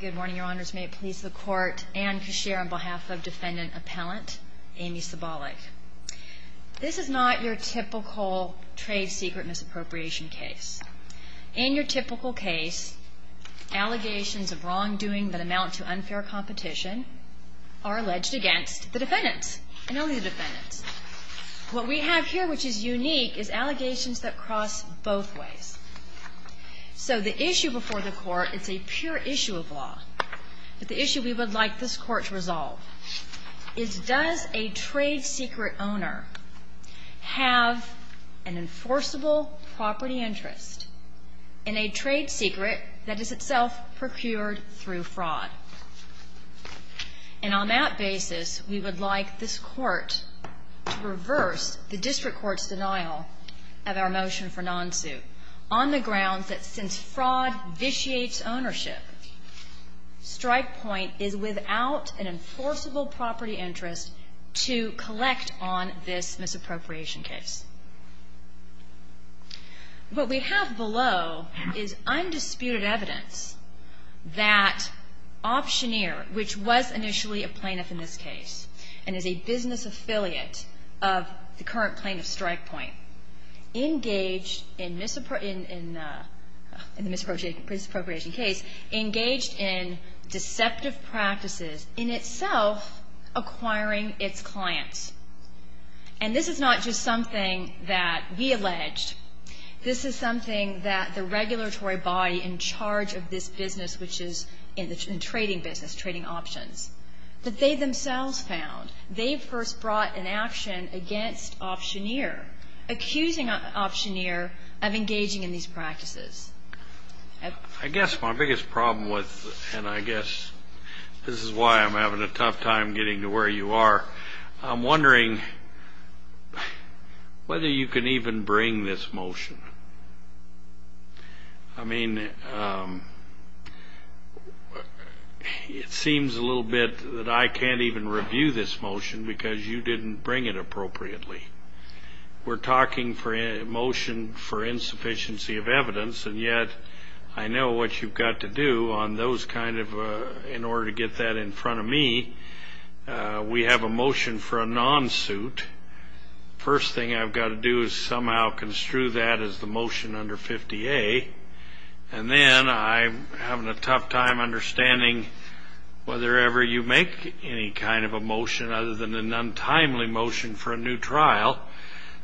Good morning, your honors. May it please the court and cashier on behalf of defendant appellant Aimee Sabolyk. This is not your typical trade secret misappropriation case. In your typical case, allegations of wrongdoing that amount to unfair competition are alleged against the defendants and only the defendants. What we have here, which is unique, is allegations that cross both So the issue before the court, it's a pure issue of law, but the issue we would like this court to resolve is does a trade secret owner have an enforceable property interest in a trade secret that is itself procured through fraud? And on that basis, we would like this court to reverse the district court's denial of our motion for non-suit on the grounds that since fraud vitiates ownership, Strikepoint is without an enforceable property interest to collect on this misappropriation case. What we have below is undisputed evidence that optioneer, which was initially a plaintiff in this case and is a business affiliate of the misappropriation case, engaged in deceptive practices in itself acquiring its clients. And this is not just something that we alleged. This is something that the regulatory body in charge of this business, which is in the trading business, trading options, that they themselves found. They first brought an action against optioneer, accusing optioneer of engaging in these practices. I guess my biggest problem was, and I guess this is why I'm having a tough time getting to where you are, I'm wondering whether you can even bring this motion. I mean, it seems a little bit that I can't even review this motion because you didn't bring it appropriately. We're talking for a motion for insufficiency of evidence, and yet I know what you've got to do on those kind of, in order to get that in front of me, we have a motion for a non-suit. First thing I've got to do is somehow construe that as the motion under 50A, and then I'm having a tough time understanding whether ever you make any kind of a motion other than an untimely motion for a new trial.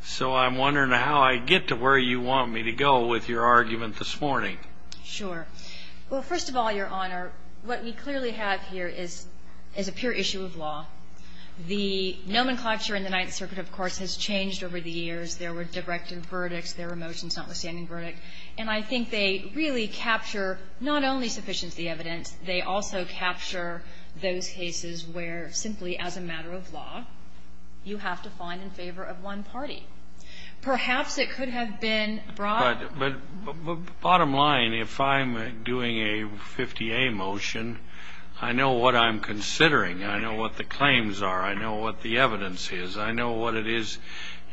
So I'm wondering how I get to where you want me to go with your argument this morning. Sure. Well, first of all, Your Honor, what we clearly have here is a pure issue of law. The nomenclature in the Ninth Circuit, of course, has changed over the years. There were directed verdicts. There were motions notwithstanding verdict. And I think they really capture not only sufficiency of evidence, they also capture those cases where, simply as a matter of law, you have to find in favor of one party. Perhaps it could have been brought... But bottom line, if I'm doing a 50A motion, I know what I'm considering. I know what the claims are. I know what the evidence is. I know what it is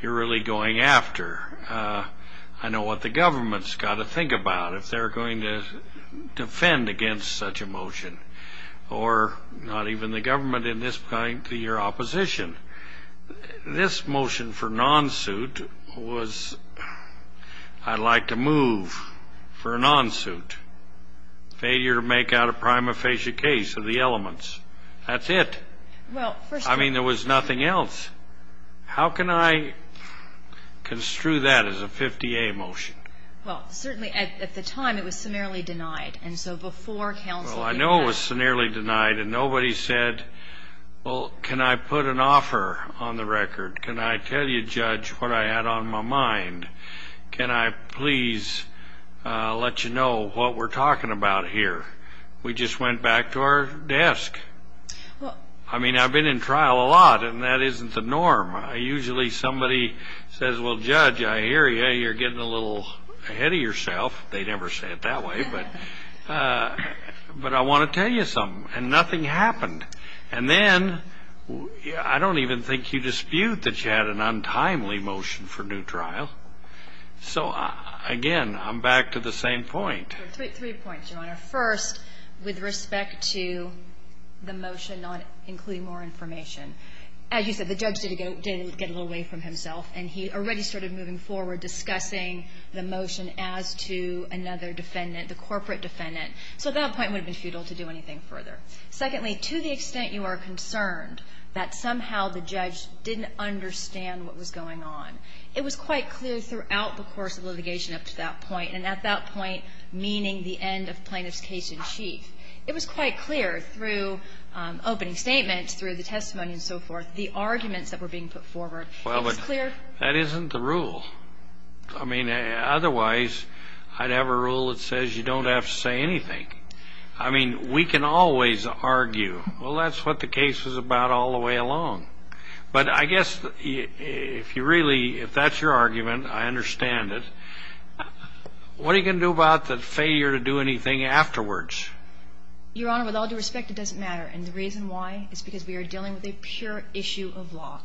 you're really going after. I know what the government's got to think about if they're going to make a 50A motion, or not even the government in this point, your opposition. This motion for non-suit was, I'd like to move for a non-suit. Failure to make out a prima facie case of the elements. That's it. I mean, there was nothing else. How can I construe that as a 50A motion? Well, certainly at the time, it was seniorly denied. And so before counsel... Well, I know it was seniorly denied, and nobody said, well, can I put an offer on the record? Can I tell you, Judge, what I had on my mind? Can I please let you know what we're talking about here? We just went back to our desk. I mean, I've been in trial a lot, and that isn't the norm. Usually somebody says, well, Judge, I hear you. You're getting a little ahead of yourself. They never say it that way. But I want to tell you something, and nothing happened. And then, I don't even think you dispute that you had an untimely motion for new trial. So again, I'm back to the same point. Three points, Your Honor. First, with respect to the motion not including more information. As you said, the judge did get a little away from himself, and he already started moving forward discussing the motion as to another defendant, the corporate defendant. So at that point, it would have been futile to do anything further. Secondly, to the extent you are concerned that somehow the judge didn't understand what was going on, it was quite clear throughout the course of litigation up to that point, and at that point, meaning the end of plaintiff's case in chief, it was quite clear through opening statements, through the testimony and so forth, the arguments that were being put forward. Well, but that isn't the rule. I mean, otherwise, I'd have a rule that says you don't have to say anything. I mean, we can always argue, well, that's what the case was about all the way along. But I guess if you really, if that's your argument, I understand it. What are you going to do about the failure to do anything afterwards? Your Honor, with all due respect, it doesn't matter. And the reason why is because we are dealing with a pure issue of law.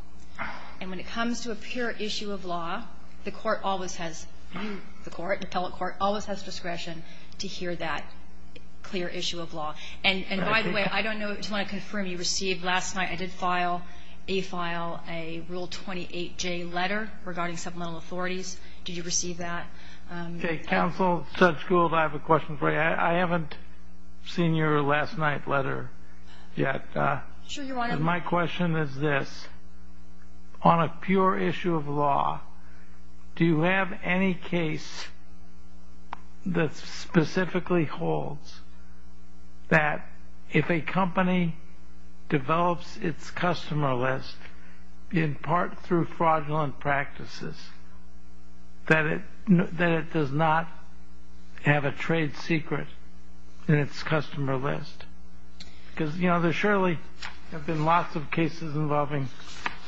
And when it comes to a pure issue of law, the court always has, you, the court, the appellate court, always has discretion to hear that clear issue of law. And by the way, I don't know if you want to confirm, you received last night, I did file, a file, a Rule 28J letter regarding supplemental authorities. Did you receive that? Okay. Counsel, Judge Gould, I have a question for you. I haven't seen your last night letter yet. Sure, Your Honor. My question is this. On a pure issue of law, do you have any case that specifically holds that if a company develops its customer list in part through fraudulent practices, that it does not have a trade secret in its customer list? Because, you know, there surely have been lots of cases involving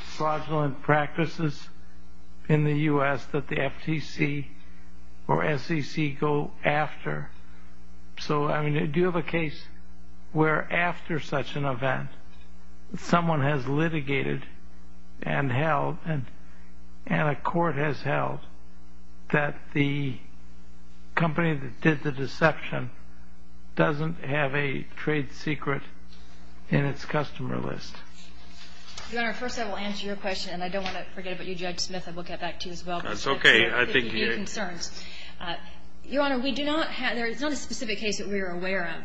fraudulent practices in the U.S. that the FTC or SEC go after. So, I mean, do you have a case where after such an event, someone has litigated and held, and a court has held, that the company that did the deception doesn't have a trade secret in its customer list? Your Honor, first I will answer your question, and I don't want to forget about you, Judge Smith. I will get back to you as well. That's okay. I think you're... Your concerns. Your Honor, we do not have, there is not a specific case that we are aware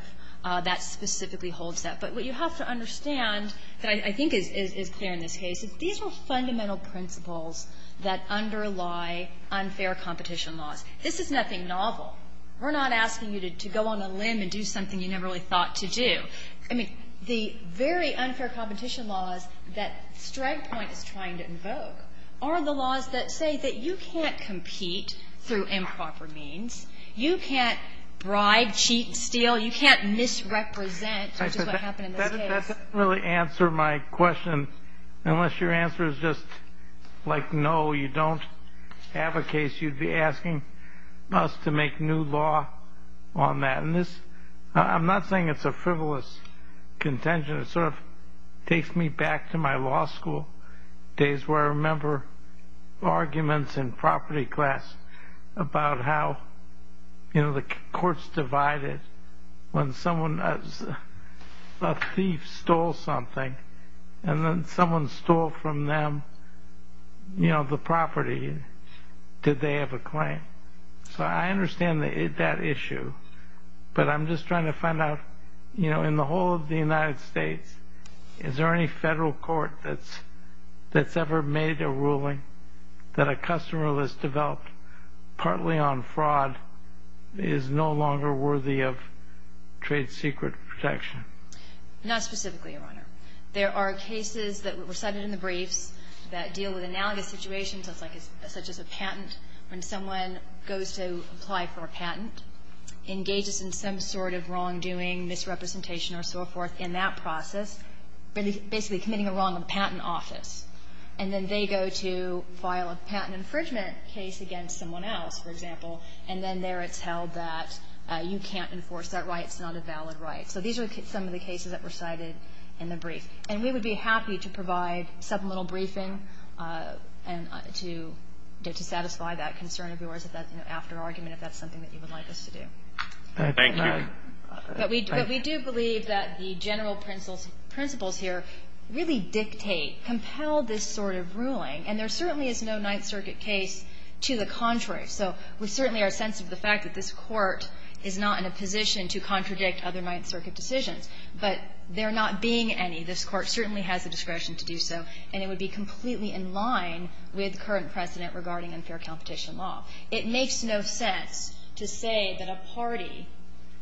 of that specifically holds that. But what you have to understand that I think is clear in this case is these are fundamental principles that underlie unfair competition laws. This is nothing novel. We're not asking you to go on a limb and do something you never really thought to do. I mean, the very unfair competition laws that Stragg Point is trying to invoke are the laws that say that you can't compete through improper means, you can't bribe, cheat, steal, you can't misrepresent, which is what happened in this case. That doesn't really answer my question, unless your answer is just like, no, you don't have a case. You'd be asking us to make new law on that. And this, I'm not saying it's a frivolous contention. It sort of takes me back to my law school days where I remember arguments in property class about how, you know, courts divided when a thief stole something and then someone stole from them the property. Did they have a claim? So I understand that issue, but I'm just trying to find out, you know, in the whole of the United States, is there any federal court that's ever made a ruling that a customer list developed partly on fraud is no longer worthy of trade secret protection? Not specifically, Your Honor. There are cases that were cited in the briefs that deal with analogous situations, such as a patent, when someone goes to apply for a patent, engages in some sort of wrongdoing, misrepresentation, or so forth in that process, basically committing a wrong in the patent office. And then they go to file a patent infringement case against someone else, for example, and then there it's held that you can't enforce that right. It's not a valid right. So these are some of the cases that were cited in the brief. And we would be happy to provide supplemental briefing to satisfy that concern of yours, you know, after argument, if that's something that you would like us to do. Thank you. But we do believe that the general principles here really dictate, compel this sort of ruling. And there certainly is no Ninth Circuit case to the contrary. So we certainly are sensitive to the fact that this Court is not in a position to contradict other Ninth Circuit decisions. But there not being any, this Court certainly has the discretion to do so, and it would be completely in line with current precedent regarding unfair competition law. It makes no sense to say that a party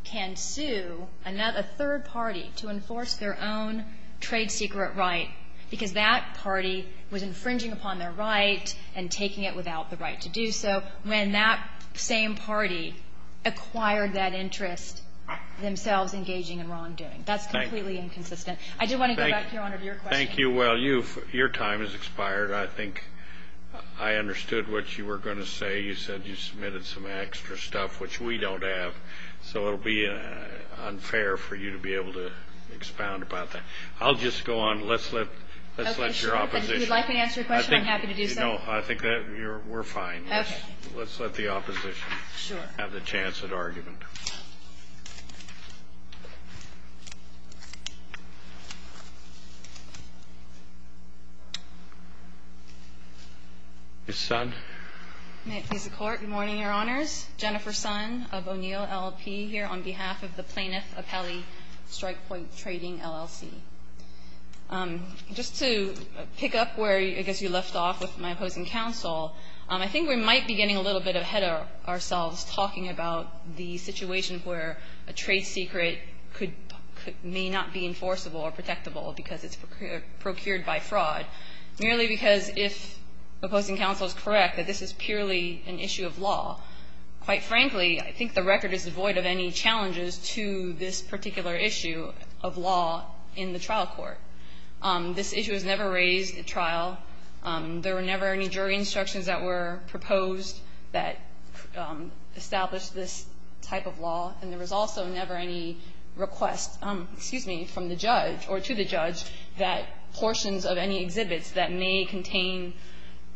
can sue a third party to enforce their own trade secret right, because that party was infringing upon their right and taking it without the right to do so, when that same party acquired that interest, themselves engaging in wrongdoing. That's completely inconsistent. I do want to go back, Your Honor, to your question. Thank you. Well, you've, your time has expired. I think I understood what you were going to say. You said you submitted some extra stuff, which we don't have. So it'll be unfair for you to be able to expound about that. I'll just go on. Let's let, let's let your opposition. Would you like me to answer your question? I'm happy to do so. No, I think that we're fine. Let's let the opposition have the chance at argument. Ms. Sun. May it please the Court. Good morning, Your Honors. Jennifer Sun of O'Neill LLP here on behalf of the Plaintiff Appellee Strikepoint Trading, LLC. Just to pick up where I guess you left off with my opposing counsel, I think we might be getting a little bit ahead of ourselves talking about the situation where a trade secret could, may not be enforceable or protectable, because it's procured, it's not a trade secret, it's procured by fraud. Merely because if opposing counsel is correct, that this is purely an issue of law. Quite frankly, I think the record is devoid of any challenges to this particular issue of law in the trial court. This issue was never raised at trial. There were never any jury instructions that were proposed that established this type of law. And there was also never any request, excuse me, from the judge or to the judge that portions of any exhibits that may contain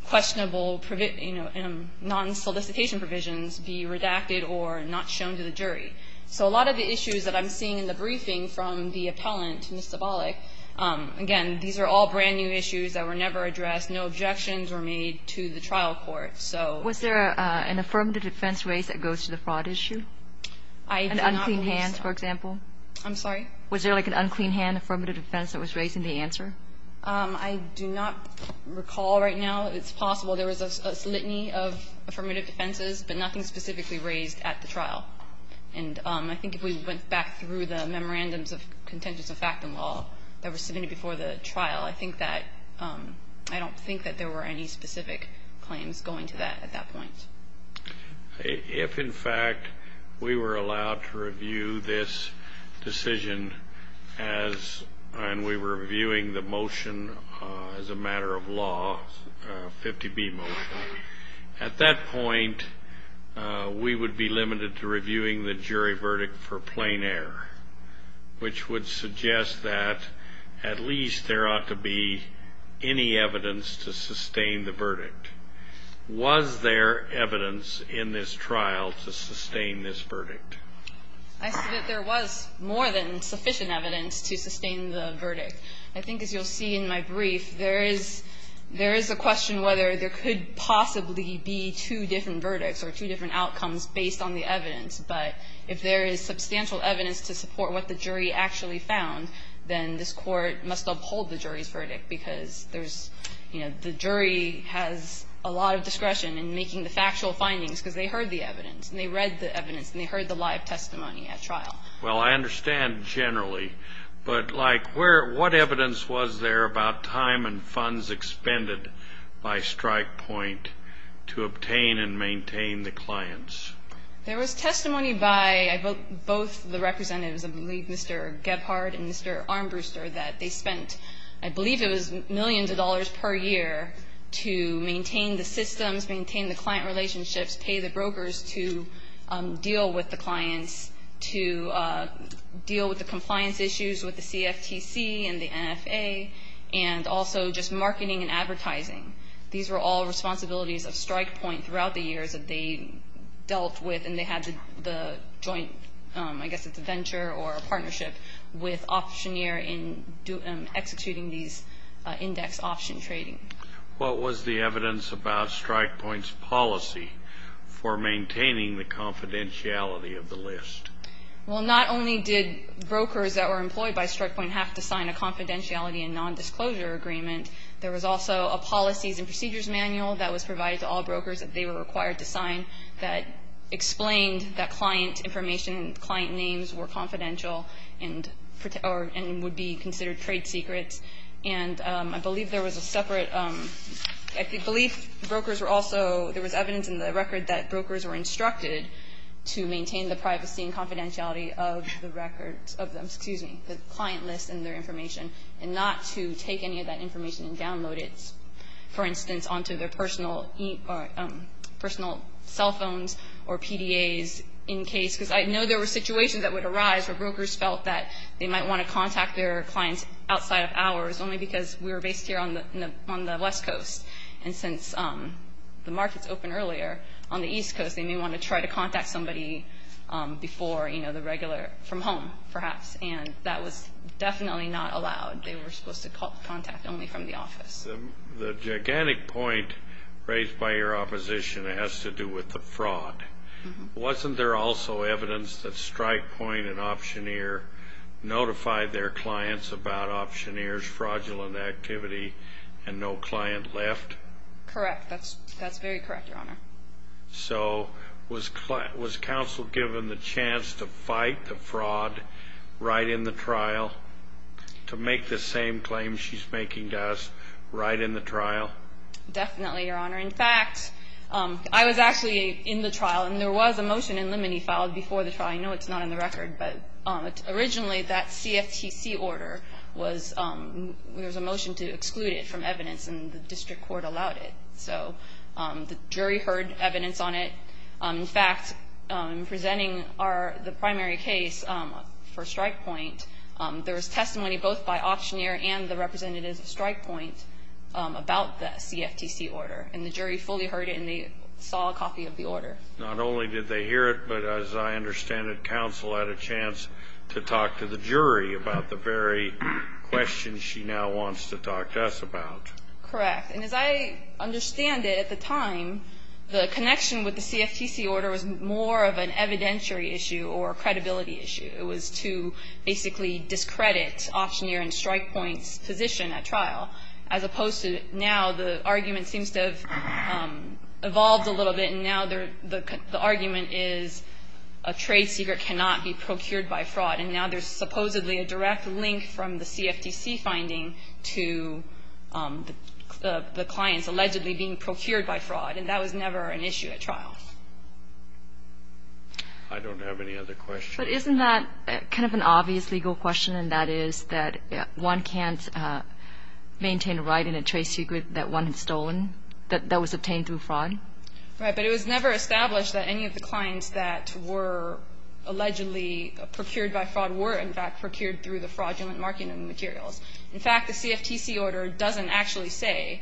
questionable, you know, non-solicitation provisions be redacted or not shown to the jury. So a lot of the issues that I'm seeing in the briefing from the appellant, Ms. Zabalek, again, these are all brand new issues that were never addressed. No objections were made to the trial court. So we're not going to raise any of those issues. Was there an affirmative defense race that goes to the fraud issue? I do not believe so. An unclean hand, for example? I'm sorry? Was there, like, an unclean hand affirmative defense that was raised in the answer? I do not recall right now. It's possible there was a litany of affirmative defenses, but nothing specifically raised at the trial. And I think if we went back through the memorandums of contentious effect in law that were submitted before the trial, I think that – I don't think that there were any specific claims going to that at that point. If, in fact, we were allowed to review this decision as – and we were reviewing the motion as a matter of law, 50B motion, at that point, we would be limited to reviewing the jury verdict for plain error, which would suggest that at least there ought to be any evidence to sustain the verdict. Was there evidence in this trial to sustain this verdict? I said that there was more than sufficient evidence to sustain the verdict. I think, as you'll see in my brief, there is – there is a question whether there could possibly be two different verdicts or two different outcomes based on the evidence. But if there is substantial evidence to support what the jury actually found, then this Court must uphold the jury's verdict, because there's – you know, the jury has a lot of discretion in making the factual findings because they heard the evidence and they read the evidence and they heard the live testimony at trial. Well, I understand generally, but, like, where – what evidence was there about time and funds expended by StrikePoint to obtain and maintain the clients? There was testimony by both the representatives, I believe Mr. Gebhardt and Mr. Armbruster, that they spent – I believe it was millions of dollars per year to maintain the systems, maintain the client relationships, pay the brokers to deal with the clients, to deal with the compliance issues with the CFTC and the NFA, and also just marketing and advertising. These were all responsibilities of StrikePoint throughout the years that they dealt with and they had the joint – I guess it's a venture or a partnership with Optioneer in executing these index option trading. What was the evidence about StrikePoint's policy for maintaining the confidentiality of the list? Well, not only did brokers that were employed by StrikePoint have to sign a confidentiality and nondisclosure agreement, there was also a policies and procedures manual that was claimed that client information and client names were confidential and would be considered trade secrets. And I believe there was a separate – I believe brokers were also – there was evidence in the record that brokers were instructed to maintain the privacy and confidentiality of the records – of the – excuse me, the client list and their information, and not to take any of that information and download it, for instance, onto their personal – personal cell phones or PDAs in case – because I know there were situations that would arise where brokers felt that they might want to contact their clients outside of hours, only because we were based here on the – on the West Coast. And since the markets opened earlier on the East Coast, they may want to try to contact somebody before, you know, the regular – from home, perhaps, and that was definitely not allowed. They were supposed to contact only from the office. The gigantic point raised by your opposition has to do with the fraud. Wasn't there also evidence that StrikePoint and Optioneer notified their clients about Optioneer's fraudulent activity and no client left? Correct. That's – that's very correct, Your Honor. So was – was counsel given the chance to fight the fraud right in the trial, to make the same claim she's making to us right in the trial? Definitely, Your Honor. In fact, I was actually in the trial, and there was a motion in limine filed before the trial. I know it's not in the record, but originally that CFTC order was – there was a motion to exclude it from evidence, and the district court allowed it. So the jury heard evidence on it. In fact, in presenting our – the primary case for StrikePoint, there was testimony both by Optioneer and the representatives of StrikePoint about the CFTC order, and the jury fully heard it, and they saw a copy of the order. Not only did they hear it, but as I understand it, counsel had a chance to talk to the jury about the very question she now wants to talk to us about. Correct. And as I understand it, at the time, the connection with the CFTC order was more of an evidentiary issue or a credibility issue. It was to basically discredit Optioneer and StrikePoint's position at trial, as opposed to now the argument seems to have evolved a little bit, and now the argument is a trade secret cannot be procured by fraud. And now there's supposedly a direct link from the CFTC finding to the clients allegedly being procured by fraud, and that was never an issue at trial. I don't have any other questions. But isn't that kind of an obvious legal question, and that is that one can't maintain a right in a trade secret that one had stolen, that was obtained through fraud? Right. But it was never established that any of the clients that were allegedly procured by fraud were, in fact, procured through the fraudulent marketing materials. In fact, the CFTC order doesn't actually say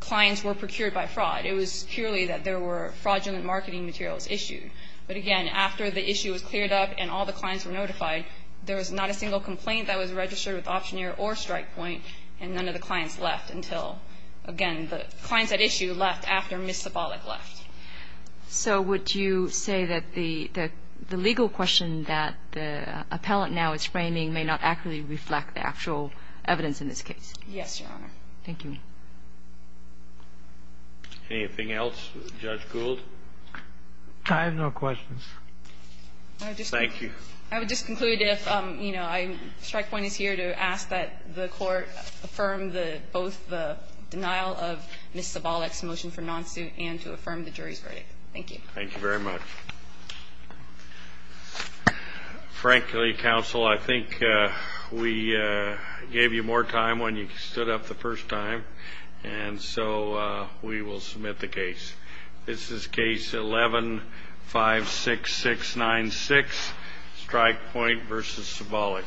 clients were procured by fraud. It was purely that there were fraudulent marketing materials issued. But, again, after the issue was cleared up and all the clients were notified, there was not a single complaint that was registered with Optioneer or StrikePoint, and none of the clients left until, again, the clients at issue left after Ms. Sibalik left. So would you say that the legal question that the appellant now is framing may not accurately reflect the actual evidence in this case? Yes, Your Honor. Thank you. Anything else? Judge Gould? I have no questions. Thank you. I would just conclude if, you know, StrikePoint is here to ask that the Court affirm both the denial of Ms. Sibalik's motion for non-suit and to affirm the jury's verdict. Thank you. Thank you very much. Frankly, counsel, I think we gave you more time when you stood up the first time, and so we will submit the case. This is case 11-56696, StrikePoint v. Sibalik.